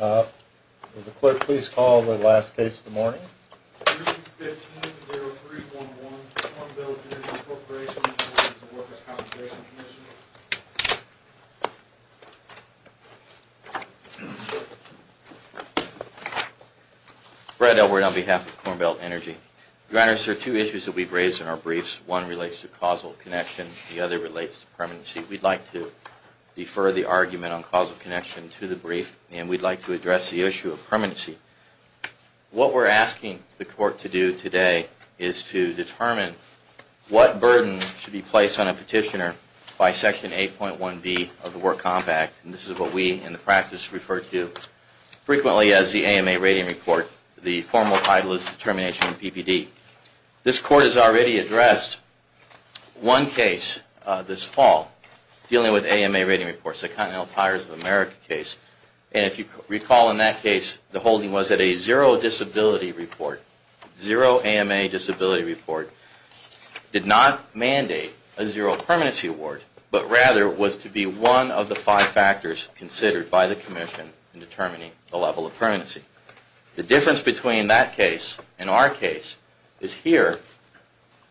Would the clerk please call the last case of the morning? 315-0311, Corn Belt Energy Corporation v. Workers' Compensation Comm'nation. Brad Elword on behalf of Corn Belt Energy. Your Honors, there are two issues that we've raised in our briefs. One relates to causal connection, the other relates to permanency. We'd like to defer the argument on causal connection to the brief, and we'd like to address the issue of permanency. What we're asking the Court to do today is to determine what burden should be placed on a petitioner by Section 8.1b of the Work Comp Act, and this is what we in the practice refer to frequently as the AMA rating report. The formal title is determination of PPD. This Court has already addressed one case this fall dealing with AMA rating reports, the Continental Tires of America case. And if you recall in that case, the holding was that a zero disability report, zero AMA disability report, did not mandate a zero permanency award, but rather was to be one of the five factors considered by the Commission in determining the level of permanency. The difference between that case and our case is here,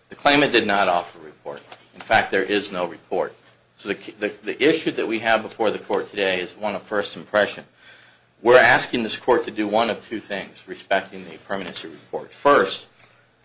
the claimant did not offer a report. In fact, there is no report. So the issue that we have before the Court today is one of first impression. We're asking this Court to do one of two things respecting the permanency report. First,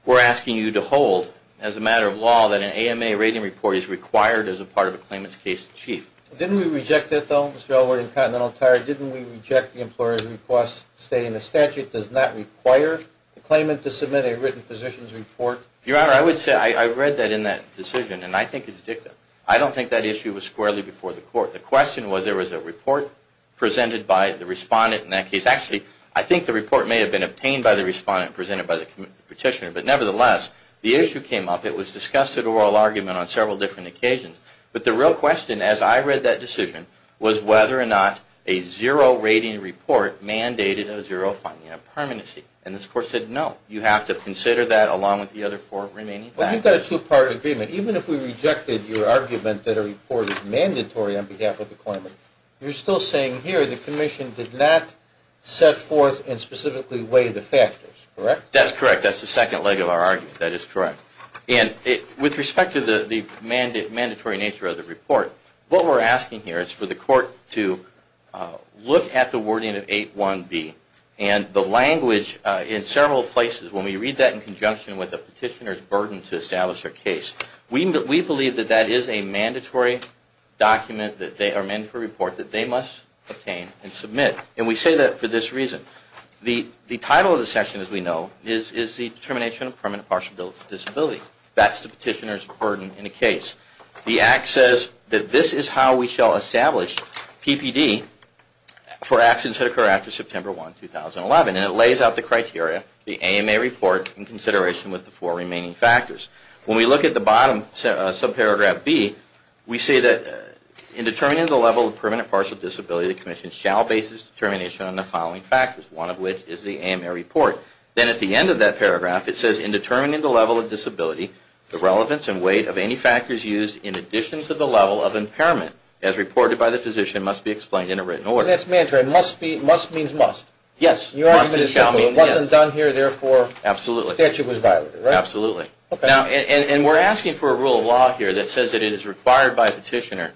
we're asking you to hold, as a matter of law, that an AMA rating report is required as a part of a claimant's case in chief. Didn't we reject it, though, Mr. Elwood, in Continental Tire? Didn't we reject the employer's request stating the statute does not require the claimant to submit a written physician's report? Your Honor, I would say I read that in that decision, and I think it's dicta. I don't think that issue was squarely before the Court. The question was there was a report presented by the respondent in that case. Actually, I think the report may have been obtained by the respondent presented by the petitioner. But nevertheless, the issue came up. It was discussed at oral argument on several different occasions. But the real question, as I read that decision, was whether or not a zero rating report mandated a zero funding, a permanency. And this Court said no. You have to consider that along with the other four remaining factors. But you've got a two-part agreement. Even if we rejected your argument that a report is mandatory on behalf of the claimant, you're still saying here the Commission did not set forth and specifically weigh the factors, correct? That's correct. That's the second leg of our argument. That is correct. With respect to the mandatory nature of the report, what we're asking here is for the Court to look at the wording of 8.1b and the language in several places. When we read that in conjunction with a petitioner's burden to establish their case, we believe that that is a mandatory report that they must obtain and submit. And we say that for this reason. The title of the section, as we know, is the Determination of Permanent Partial Disability. That's the petitioner's burden in a case. The Act says that this is how we shall establish PPD for accidents that occur after September 1, 2011. And it lays out the criteria, the AMA report, in consideration with the four remaining factors. When we look at the bottom, subparagraph b, we say that in determining the level of permanent partial disability, the Commission shall base its determination on the following factors, one of which is the AMA report. Then at the end of that paragraph, it says, in determining the level of disability, the relevance and weight of any factors used, in addition to the level of impairment, as reported by the physician, must be explained in a written order. That's mandatory. Must means must. Yes. It wasn't done here, therefore the statute was violated, right? Absolutely. And we're asking for a rule of law here that says that it is required by a petitioner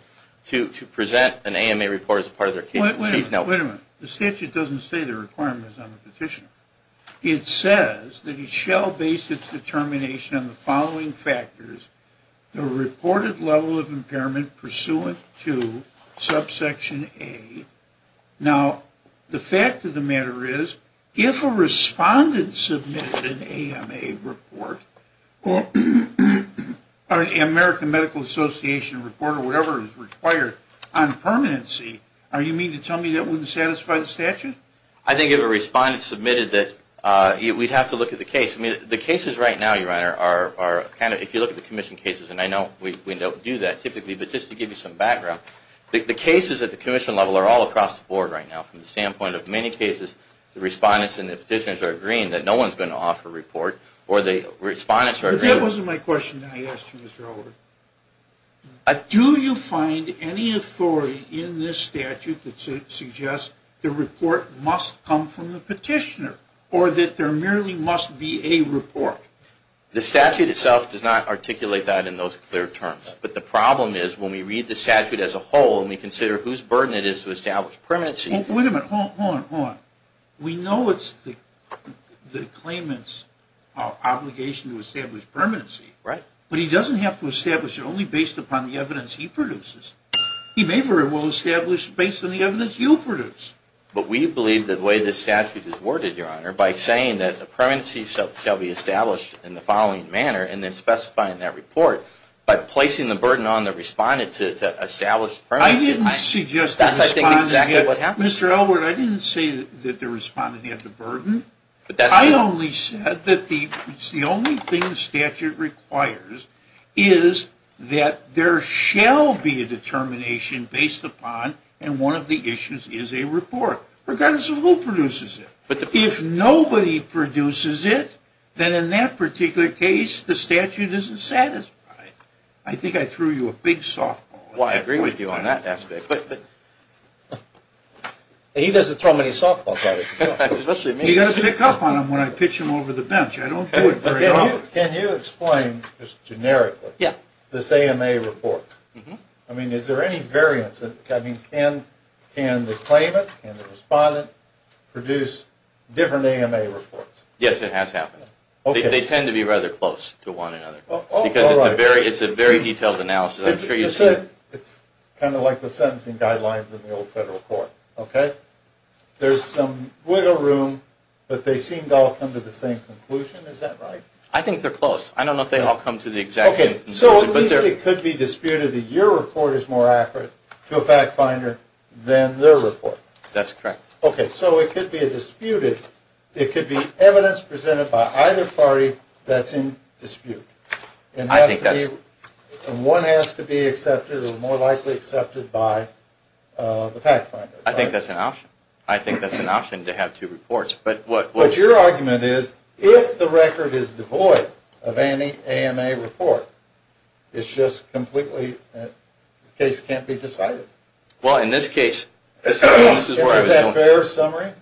to present an AMA report as part of their case. Wait a minute. The statute doesn't say the requirement is on the petitioner. It says that you shall base its determination on the following factors, the reported level of impairment pursuant to subsection A. Now, the fact of the matter is, if a respondent submitted an AMA report, or an American Medical Association report or whatever is required on permanency, are you meaning to tell me that wouldn't satisfy the statute? I think if a respondent submitted that, we'd have to look at the case. The cases right now, Your Honor, are kind of, if you look at the commission cases, and I know we don't do that typically, but just to give you some background, the cases at the commission level are all across the board right now. From the standpoint of many cases, the respondents and the petitioners are agreeing that no one is going to offer a report. That wasn't my question that I asked you, Mr. Oliver. Do you find any authority in this statute that suggests the report must come from the petitioner, or that there merely must be a report? The statute itself does not articulate that in those clear terms. But the problem is, when we read the statute as a whole, and we consider whose burden it is to establish permanency. Wait a minute. Hold on, hold on. We know it's the claimant's obligation to establish permanency. Right. But he doesn't have to establish it only based upon the evidence he produces. He may very well establish it based on the evidence you produce. But we believe the way this statute is worded, Your Honor, by saying that the permanency shall be established in the following manner, and then specifying that report, by placing the burden on the respondent to establish permanency. That's, I think, exactly what happened. Mr. Elwood, I didn't say that the respondent had the burden. I only said that the only thing the statute requires is that there shall be a determination based upon, and one of the issues is a report, regardless of who produces it. If nobody produces it, then in that particular case, the statute isn't satisfied. I think I threw you a big softball. I agree with you on that aspect. He doesn't throw many softballs at us. You've got to pick up on him when I pitch him over the bench. I don't do it very often. Can you explain, just generically, this AMA report? I mean, is there any variance? I mean, can the claimant and the respondent produce different AMA reports? Yes, it has happened. They tend to be rather close to one another because it's a very detailed analysis. It's kind of like the sentencing guidelines in the old federal court, okay? There's some wiggle room, but they seem to all come to the same conclusion. Is that right? I think they're close. I don't know if they all come to the exact same conclusion. So at least it could be disputed that your report is more accurate to a fact finder than their report. That's correct. Okay, so it could be a disputed. It could be evidence presented by either party that's in dispute. One has to be accepted or more likely accepted by the fact finder. I think that's an option. I think that's an option to have two reports. But your argument is if the record is devoid of any AMA report, it's just completely, the case can't be decided. Well, in this case, this is where I was going. Is that a fair summary?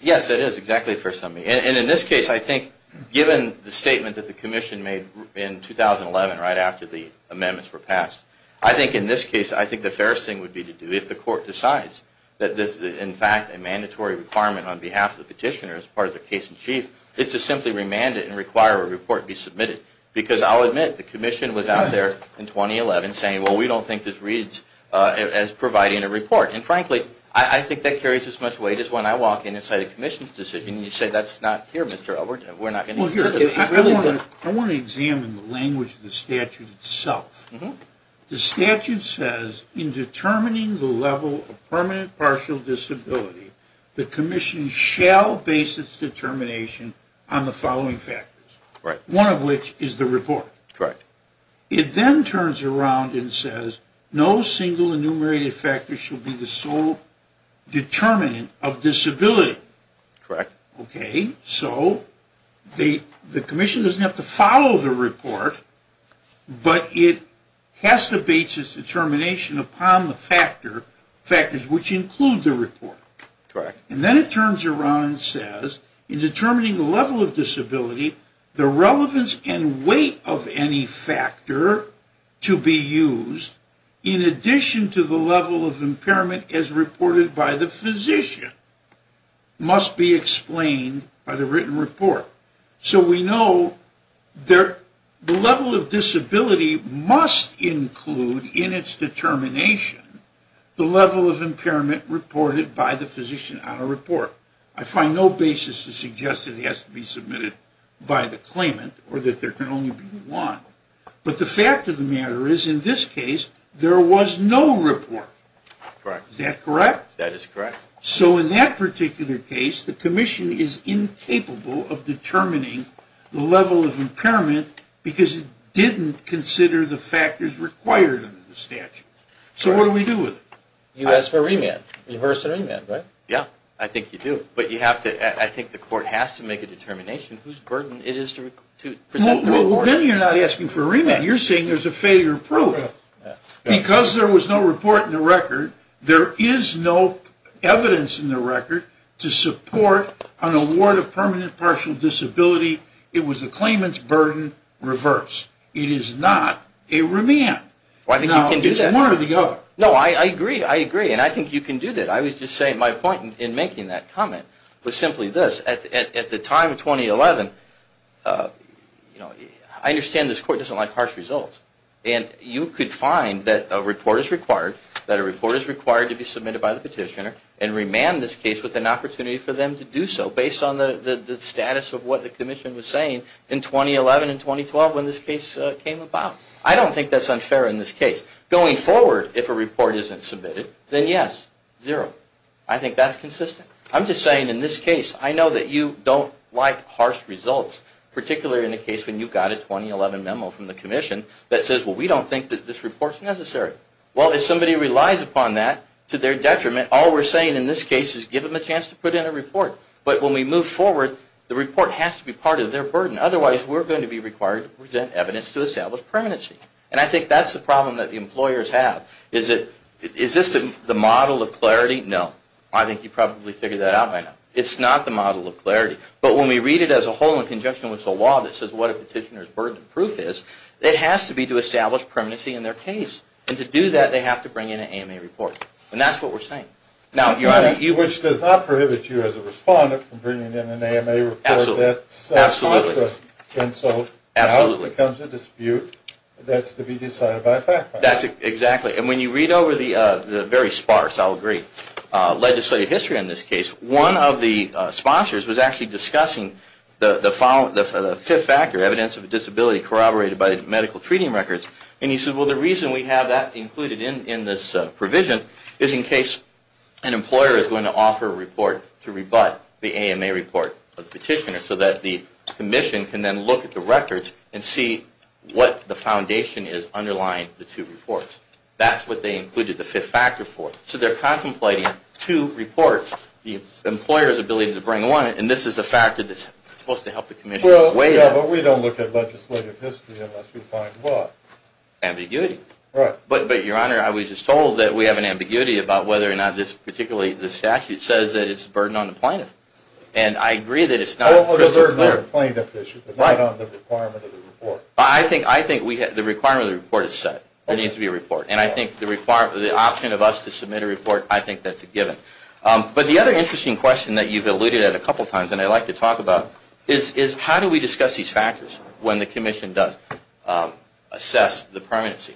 Yes, it is exactly a fair summary. And in this case, I think given the statement that the commission made in 2011 right after the amendments were passed, I think in this case, I think the fairest thing would be to do if the court decides that this is, in fact, a mandatory requirement on behalf of the petitioner as part of the case in chief, is to simply remand it and require a report be submitted. Because I'll admit, the commission was out there in 2011 saying, well, we don't think this reads as providing a report. And frankly, I think that carries as much weight as when I walk in and say the commission's decision and you say that's not here, Mr. Elbert, and we're not going to consider it. I want to examine the language of the statute itself. The statute says, in determining the level of permanent partial disability, the commission shall base its determination on the following factors, one of which is the report. Correct. It then turns around and says, no single enumerated factor shall be the sole determinant of disability. Correct. Okay. So the commission doesn't have to follow the report, but it has to base its determination upon the factors which include the report. Correct. And then it turns around and says, in determining the level of disability, the relevance and weight of any factor to be used, in addition to the level of impairment as reported by the physician, must be explained by the written report. So we know the level of disability must include in its determination the level of impairment reported by the physician on a report. I find no basis to suggest that it has to be submitted by the claimant or that there can only be one. But the fact of the matter is, in this case, there was no report. Correct. Is that correct? That is correct. So in that particular case, the commission is incapable of determining the level of impairment because it didn't consider the factors required under the statute. So what do we do with it? You ask for a remand. Rehearse a remand, right? Yeah. I think you do. But I think the court has to make a determination whose burden it is to present the report. Well, then you're not asking for a remand. You're saying there's a failure of proof. Correct. Because there was no report in the record, there is no evidence in the record to support an award of permanent partial disability. It was the claimant's burden reversed. It is not a remand. Well, I think you can do that. Now, it's one or the other. No, I agree. I agree. And I think you can do that. I was just saying my point in making that comment was simply this. At the time, 2011, I understand this court doesn't like harsh results. And you could find that a report is required, that a report is required to be submitted by the petitioner, and remand this case with an opportunity for them to do so based on the status of what the commission was saying in 2011 and 2012 when this case came about. I don't think that's unfair in this case. Going forward, if a report isn't submitted, then yes, zero. I think that's consistent. I'm just saying in this case, I know that you don't like harsh results, particularly in the case when you got a 2011 memo from the commission that says, well, we don't think that this report is necessary. Well, if somebody relies upon that to their detriment, all we're saying in this case is give them a chance to put in a report. But when we move forward, the report has to be part of their burden. Otherwise, we're going to be required to present evidence to establish permanency. And I think that's the problem that the employers have. Is this the model of clarity? No. I think you probably figured that out by now. It's not the model of clarity. But when we read it as a whole in conjunction with the law that says what a petitioner's burden of proof is, it has to be to establish permanency in their case. And to do that, they have to bring in an AMA report. And that's what we're saying. Which does not prohibit you as a respondent from bringing in an AMA report. Absolutely. And so now becomes a dispute that's to be decided by a fact finder. Exactly. And when you read over the very sparse, I'll agree, legislative history in this case, one of the sponsors was actually discussing the fifth factor, evidence of disability corroborated by medical treating records. And he said, well, the reason we have that included in this provision is in case an employer is going to offer a report to rebut the AMA report of the petitioner so that the commission can then look at the records and see what the foundation is underlying the two reports. That's what they included the fifth factor for. So they're contemplating two reports, the employer's ability to bring one, and this is a factor that's supposed to help the commission weigh in. Well, yeah, but we don't look at legislative history unless we find what? Ambiguity. Right. But, Your Honor, I was just told that we have an ambiguity about whether or not this, particularly this statute, says that it's a burden on the plaintiff. And I agree that it's not crystal clear. But not on the requirement of the report. I think the requirement of the report is set. There needs to be a report. And I think the option of us to submit a report, I think that's a given. But the other interesting question that you've alluded at a couple of times, and I'd like to talk about, is how do we discuss these factors when the commission does assess the permanency?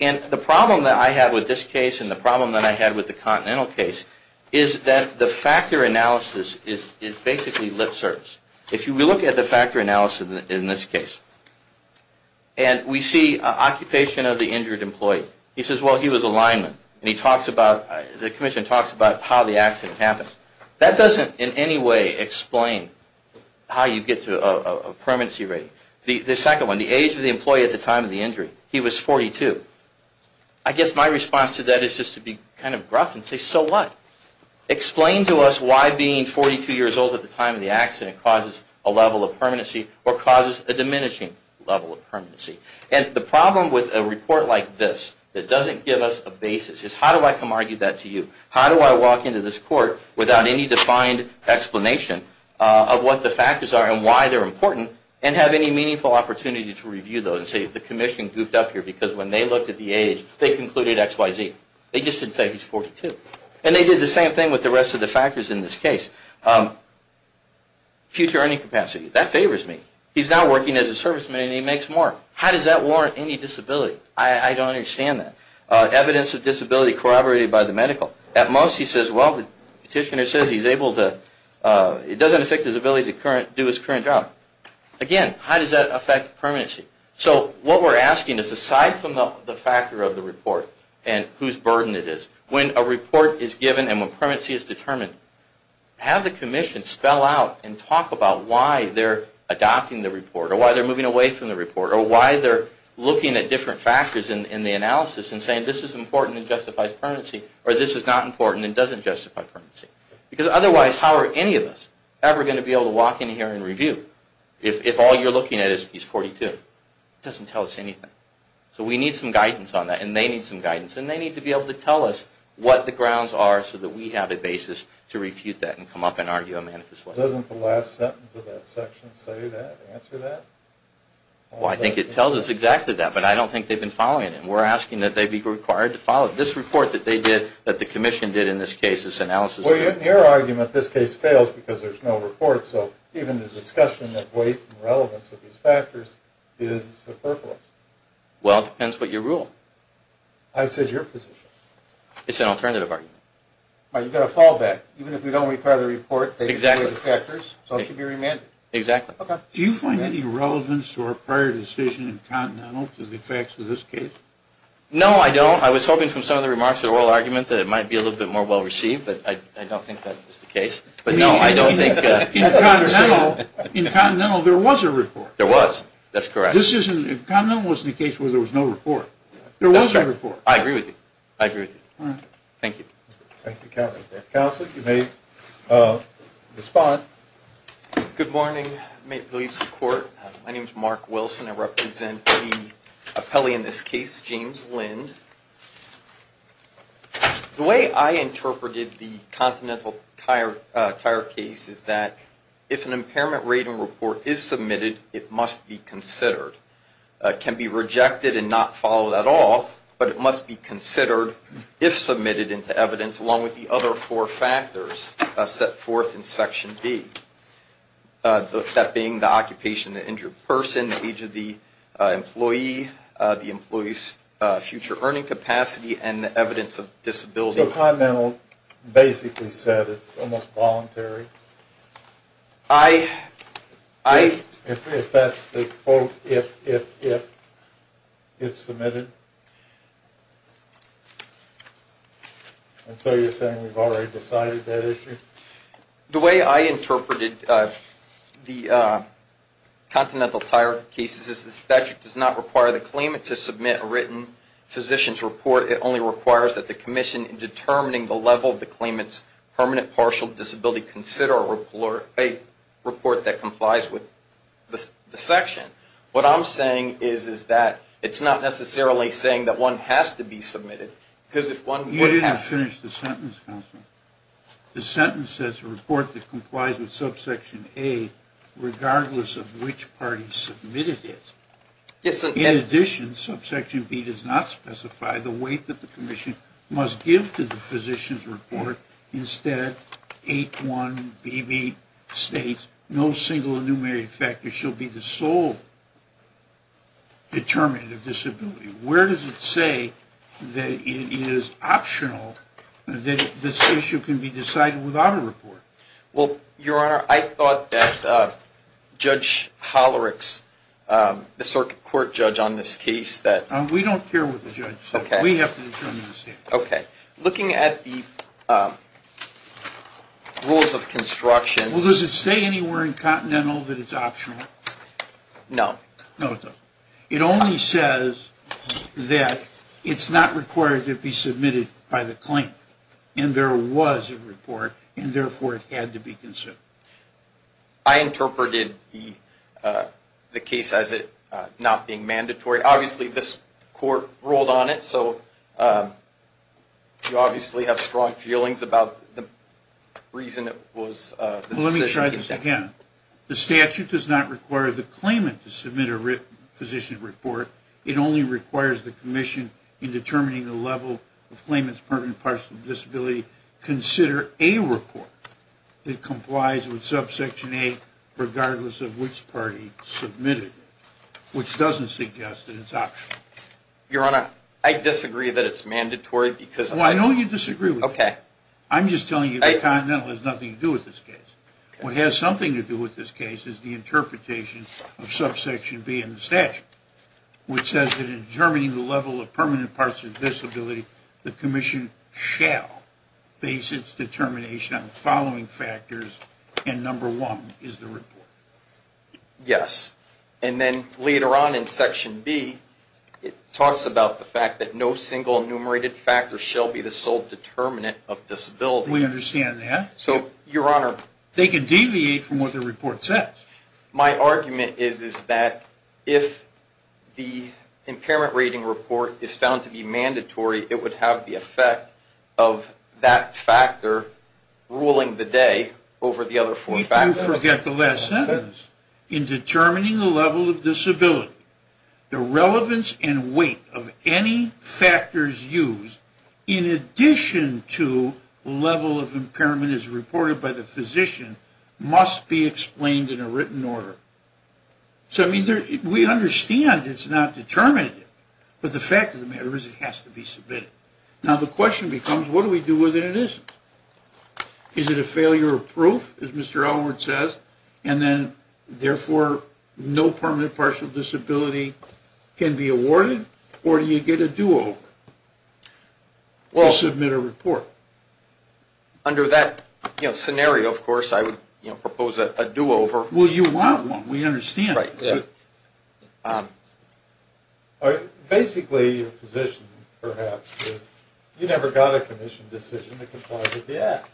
And the problem that I have with this case and the problem that I had with the Continental case is that the factor analysis is basically lip service. If you look at the factor analysis in this case, and we see occupation of the injured employee. He says, well, he was a lineman, and he talks about, the commission talks about how the accident happened. That doesn't in any way explain how you get to a permanency rating. The second one, the age of the employee at the time of the injury. He was 42. I guess my response to that is just to be kind of rough and say, so what? Explain to us why being 42 years old at the time of the accident causes a level of permanency or causes a diminishing level of permanency. And the problem with a report like this that doesn't give us a basis is how do I come argue that to you? How do I walk into this court without any defined explanation of what the factors are and why they're important and have any meaningful opportunity to review those and say, the commission goofed up here because when they looked at the age, they concluded X, Y, Z. They just didn't say he's 42. And they did the same thing with the rest of the factors in this case. Future earning capacity. That favors me. He's now working as a serviceman, and he makes more. How does that warrant any disability? I don't understand that. Evidence of disability corroborated by the medical. At most, he says, well, the petitioner says he's able to, it doesn't affect his ability to do his current job. Again, how does that affect permanency? So what we're asking is aside from the factor of the report and whose burden it is, when a report is given and when permanency is determined, have the commission spell out and talk about why they're adopting the report or why they're moving away from the report or why they're looking at different factors in the analysis and saying this is important and justifies permanency or this is not important and doesn't justify permanency. Because otherwise, how are any of us ever going to be able to walk in here and review if all you're looking at is piece 42? It doesn't tell us anything. So we need some guidance on that, and they need some guidance, and they need to be able to tell us what the grounds are so that we have a basis to refute that and come up and argue a manifest way. Doesn't the last sentence of that section say that, answer that? Well, I think it tells us exactly that, but I don't think they've been following it, and we're asking that they be required to follow it. This report that they did, that the commission did in this case, this analysis. Well, in your argument, this case fails because there's no report. So even the discussion of weight and relevance of these factors is superfluous. Well, it depends what you rule. I said your position. It's an alternative argument. You've got a fallback. Even if we don't require the report, they display the factors, so it should be remanded. Exactly. Do you find any relevance to our prior decision in Continental to the effects of this case? No, I don't. I was hoping from some of the remarks in the oral argument that it might be a little bit more well-received, but I don't think that is the case. In Continental, there was a report. There was. That's correct. Continental wasn't a case where there was no report. There was a report. That's right. I agree with you. I agree with you. Thank you. Thank you, Counselor. Counselor, you may respond. Good morning. My name is Mark Wilson. I represent the appellee in this case, James Lind. The way I interpreted the Continental Tire case is that if an impairment rating report is submitted, it must be considered. It can be rejected and not followed at all, but it must be considered if submitted into evidence, along with the other four factors set forth in Section B. That being the occupation of the injured person, the age of the employee, the employee's future earning capacity, and the evidence of disability. So Continental basically said it's almost voluntary? If that's the quote, if, if, if it's submitted? And so you're saying we've already decided that issue? The way I interpreted the Continental Tire cases is the statute does not require the claimant to submit a written physician's report. It only requires that the commission, in determining the level of the claimant's permanent partial disability, consider a report that complies with the section. What I'm saying is, is that it's not necessarily saying that one has to be submitted, because if one would have to. You didn't finish the sentence, Counselor. The sentence says a report that complies with subsection A, regardless of which party submitted it. In addition, subsection B does not specify the weight that the commission must give to the physician's report. Instead, 8-1BB states, no single enumerated factor shall be the sole determinant of disability. Where does it say that it is optional that this issue can be decided without a report? Well, Your Honor, I thought that Judge Hollerick's, the circuit court judge on this case, that. We don't care what the judge said. Okay. We have to determine the statement. Okay. Looking at the rules of construction. Well, does it say anywhere in Continental that it's optional? No. No, it doesn't. It only says that it's not required to be submitted by the claimant. And there was a report, and therefore it had to be considered. I interpreted the case as it not being mandatory. Obviously, this court ruled on it, so you obviously have strong feelings about the reason it was. Well, let me try this again. The statute does not require the claimant to submit a physician's report. It only requires the commission in determining the level of claimant's permanent partial disability consider a report that complies with subsection 8 regardless of which party submitted it, which doesn't suggest that it's optional. Your Honor, I disagree that it's mandatory because. Well, I know you disagree with me. Okay. I'm just telling you that Continental has nothing to do with this case. What has something to do with this case is the interpretation of subsection B in the statute, which says that in determining the level of permanent partial disability, the commission shall base its determination on the following factors, and number one is the report. Yes. And then later on in section B, it talks about the fact that no single enumerated factor shall be the sole determinant of disability. We understand that. So, Your Honor. They can deviate from what the report says. My argument is that if the impairment rating report is found to be mandatory, it would have the effect of that factor ruling the day over the other four factors. We do forget the last sentence. In determining the level of disability, the relevance and weight of any factors used, in addition to level of impairment as reported by the physician, must be explained in a written order. So, I mean, we understand it's not determinative, but the fact of the matter is it has to be submitted. Now, the question becomes, what do we do with it if it isn't? Is it a failure of proof, as Mr. Elwood says, and then, therefore, no permanent partial disability can be awarded, or do you get a do-over to submit a report? Under that scenario, of course, I would propose a do-over. Well, you want one. Basically, your position, perhaps, is you never got a commission decision that complies with the Act.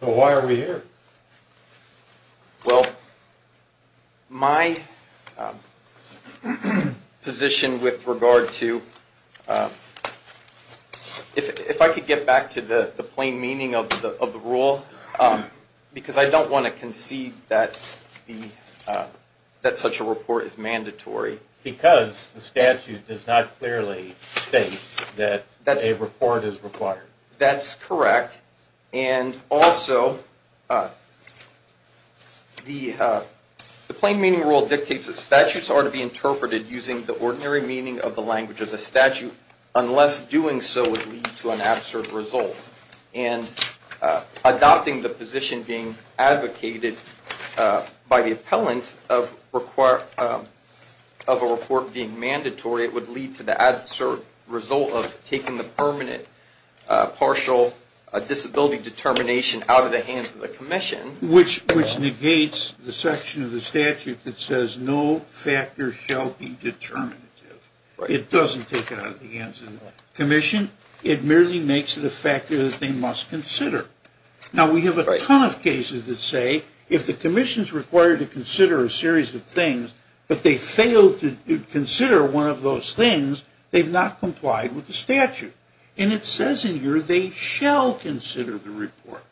So why are we here? Well, my position with regard to, if I could get back to the plain meaning of the rule, because I don't want to concede that such a report is mandatory. Because the statute does not clearly state that a report is required. That's correct. And also, the plain meaning rule dictates that statutes are to be interpreted using the ordinary meaning of the language of the statute, unless doing so would lead to an absurd result. And adopting the position being advocated by the appellant of a report being mandatory, it would lead to the absurd result of taking the permanent partial disability determination out of the hands of the commission. Which negates the section of the statute that says no factor shall be determinative. It doesn't take it out of the hands of the commission. It merely makes it a factor that they must consider. Now, we have a ton of cases that say, if the commission is required to consider a series of things, but they fail to consider one of those things, they've not complied with the statute. And it says in here they shall consider the report.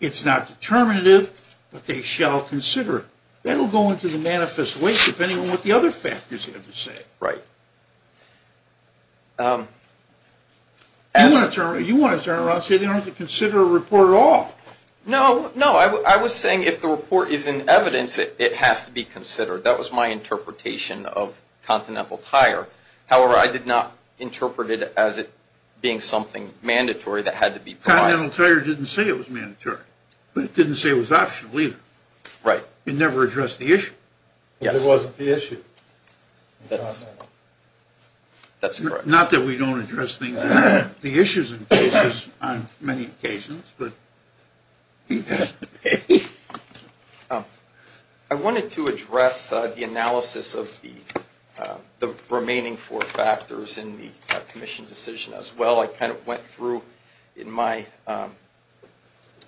It's not determinative, but they shall consider it. That will go into the manifest way, depending on what the other factors have to say. Right. You want to turn around and say they don't have to consider a report at all. No, no. I was saying if the report is in evidence, it has to be considered. That was my interpretation of Continental Tire. However, I did not interpret it as it being something mandatory that had to be provided. Continental Tire didn't say it was mandatory. But it didn't say it was optional either. Right. It never addressed the issue. Yes. It wasn't the issue. That's correct. Not that we don't address the issues in cases on many occasions. I wanted to address the analysis of the remaining four factors in the commission decision as well. I kind of went through in my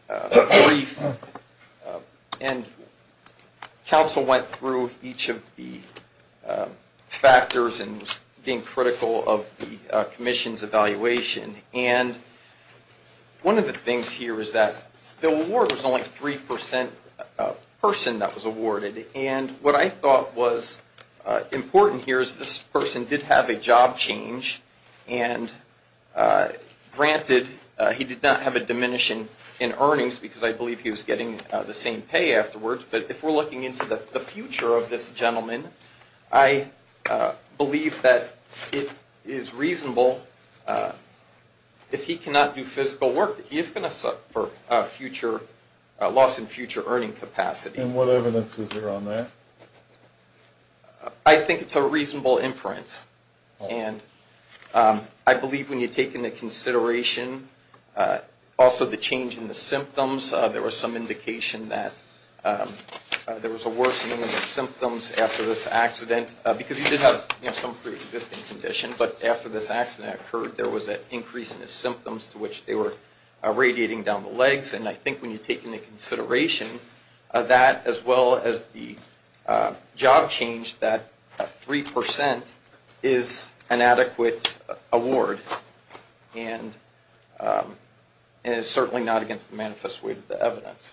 brief. And counsel went through each of the factors and was being critical of the commission's evaluation. And one of the things here is that the award was only a 3% person that was awarded. And what I thought was important here is this person did have a job change. And granted, he did not have a diminishing in earnings because I believe he was getting the same pay afterwards. But if we're looking into the future of this gentleman, I believe that it is reasonable, if he cannot do physical work, that he is going to suffer a loss in future earning capacity. And what evidence is there on that? I think it's a reasonable inference. And I believe when you take into consideration also the change in the symptoms, there was some indication that there was a worsening of the symptoms after this accident. Because he did have some preexisting condition. But after this accident occurred, there was an increase in his symptoms to which they were radiating down the legs. And I think when you take into consideration that as well as the job change, that 3% is an adequate award and is certainly not against the manifest way of the evidence.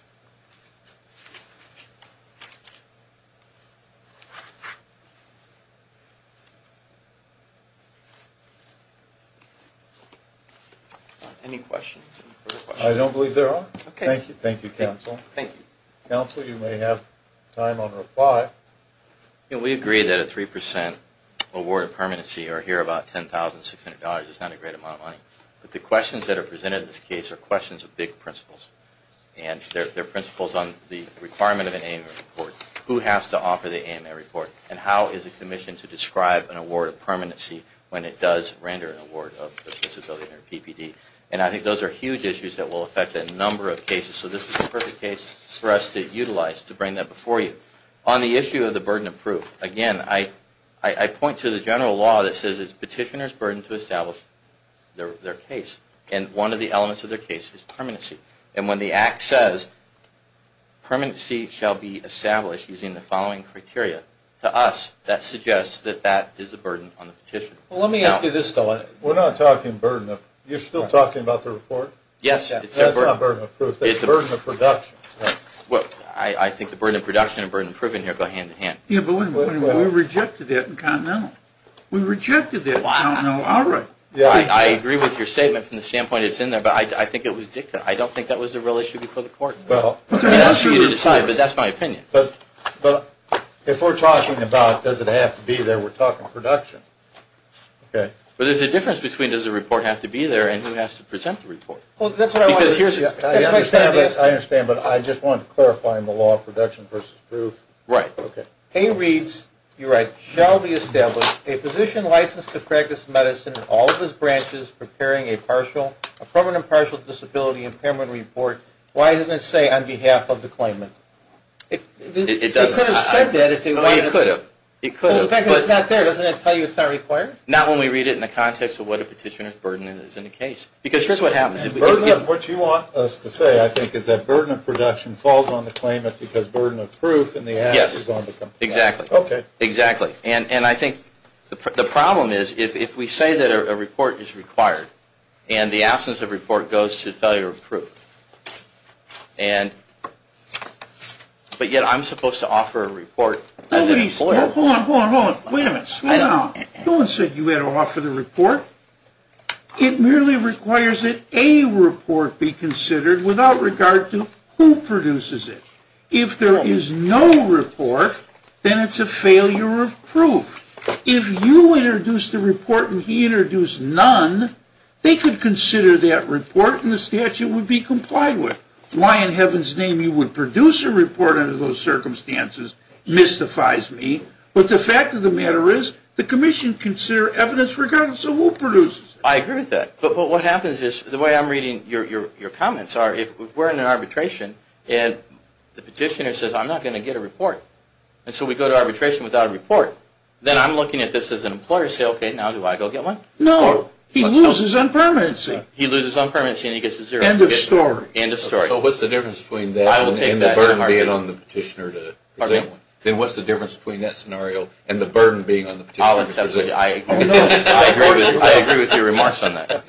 Any questions? I don't believe there are. Okay. Thank you, counsel. Thank you. Counsel, you may have time on reply. We agree that a 3% award of permanency or here about $10,600 is not a great amount of money. But the questions that are presented in this case are questions of big principles. And they're very important. They're principles on the requirement of an AMA report. Who has to offer the AMA report? And how is a commission to describe an award of permanency when it does render an award of disability or PPD? And I think those are huge issues that will affect a number of cases. So this is the perfect case for us to utilize to bring that before you. On the issue of the burden of proof, again, I point to the general law that says it's petitioner's burden to establish their case. And one of the elements of their case is permanency. And when the act says permanency shall be established using the following criteria, to us, that suggests that that is a burden on the petitioner. Well, let me ask you this, though. We're not talking burden of proof. You're still talking about the report? Yes. That's not burden of proof. That's burden of production. I think the burden of production and burden of proof in here go hand in hand. Yeah, but we rejected it in Continental. We rejected it. Well, I don't know. All right. I agree with your statement from the standpoint it's in there. But I think it was dicta. I don't think that was a real issue before the court. Well, that's for you to decide, but that's my opinion. But if we're talking about does it have to be there, we're talking production. Okay. But there's a difference between does the report have to be there and who has to present the report. Well, that's what I wanted to say. I understand, but I just wanted to clarify in the law production versus proof. Right. Okay. Hay reads, you're right, shall be established a physician licensed to practice medicine in all of his branches preparing a permanent partial disability impairment report. Why doesn't it say on behalf of the claimant? It doesn't. It could have said that if it wanted to. It could have. Well, the fact that it's not there, doesn't that tell you it's not required? Not when we read it in the context of what a petitioner's burden is in the case. Because here's what happens. The burden of what you want us to say, I think, is that burden of production falls on the claimant because burden of proof and the act is on the complainant. Yes. Exactly. Okay. Exactly. And I think the problem is if we say that a report is required and the absence of a report goes to failure of proof, but yet I'm supposed to offer a report. Hold on, hold on, hold on. Wait a minute. Wait a minute. No one said you had to offer the report. It merely requires that a report be considered without regard to who produces it. If there is no report, then it's a failure of proof. If you introduce the report and he introduced none, they could consider that report and the statute would be complied with. Why in heaven's name you would produce a report under those circumstances mystifies me. But the fact of the matter is the commission consider evidence regardless of who produces it. I agree with that. But what happens is the way I'm reading your comments are if we're in an arbitration and the petitioner says I'm not going to get a report and so we go to arbitration without a report, then I'm looking at this as an employer and say, okay, now do I go get one? No. He loses on permanency. He loses on permanency and he gets a zero. End of story. End of story. So what's the difference between that and the burden being on the petitioner to present one? Then what's the difference between that scenario and the burden being on the petitioner to present one? I agree with your remarks on that.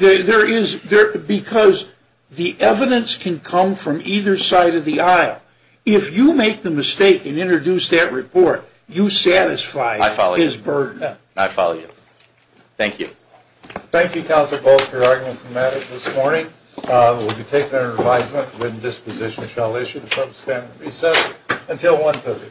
Because the evidence can come from either side of the aisle. If you make the mistake and introduce that report, you satisfy his burden. I follow you. I follow you. Thank you. Thank you, Council, both for your arguments and matters this morning. We'll be taking our advisement and disposition shall issue from standard recess until 1.30.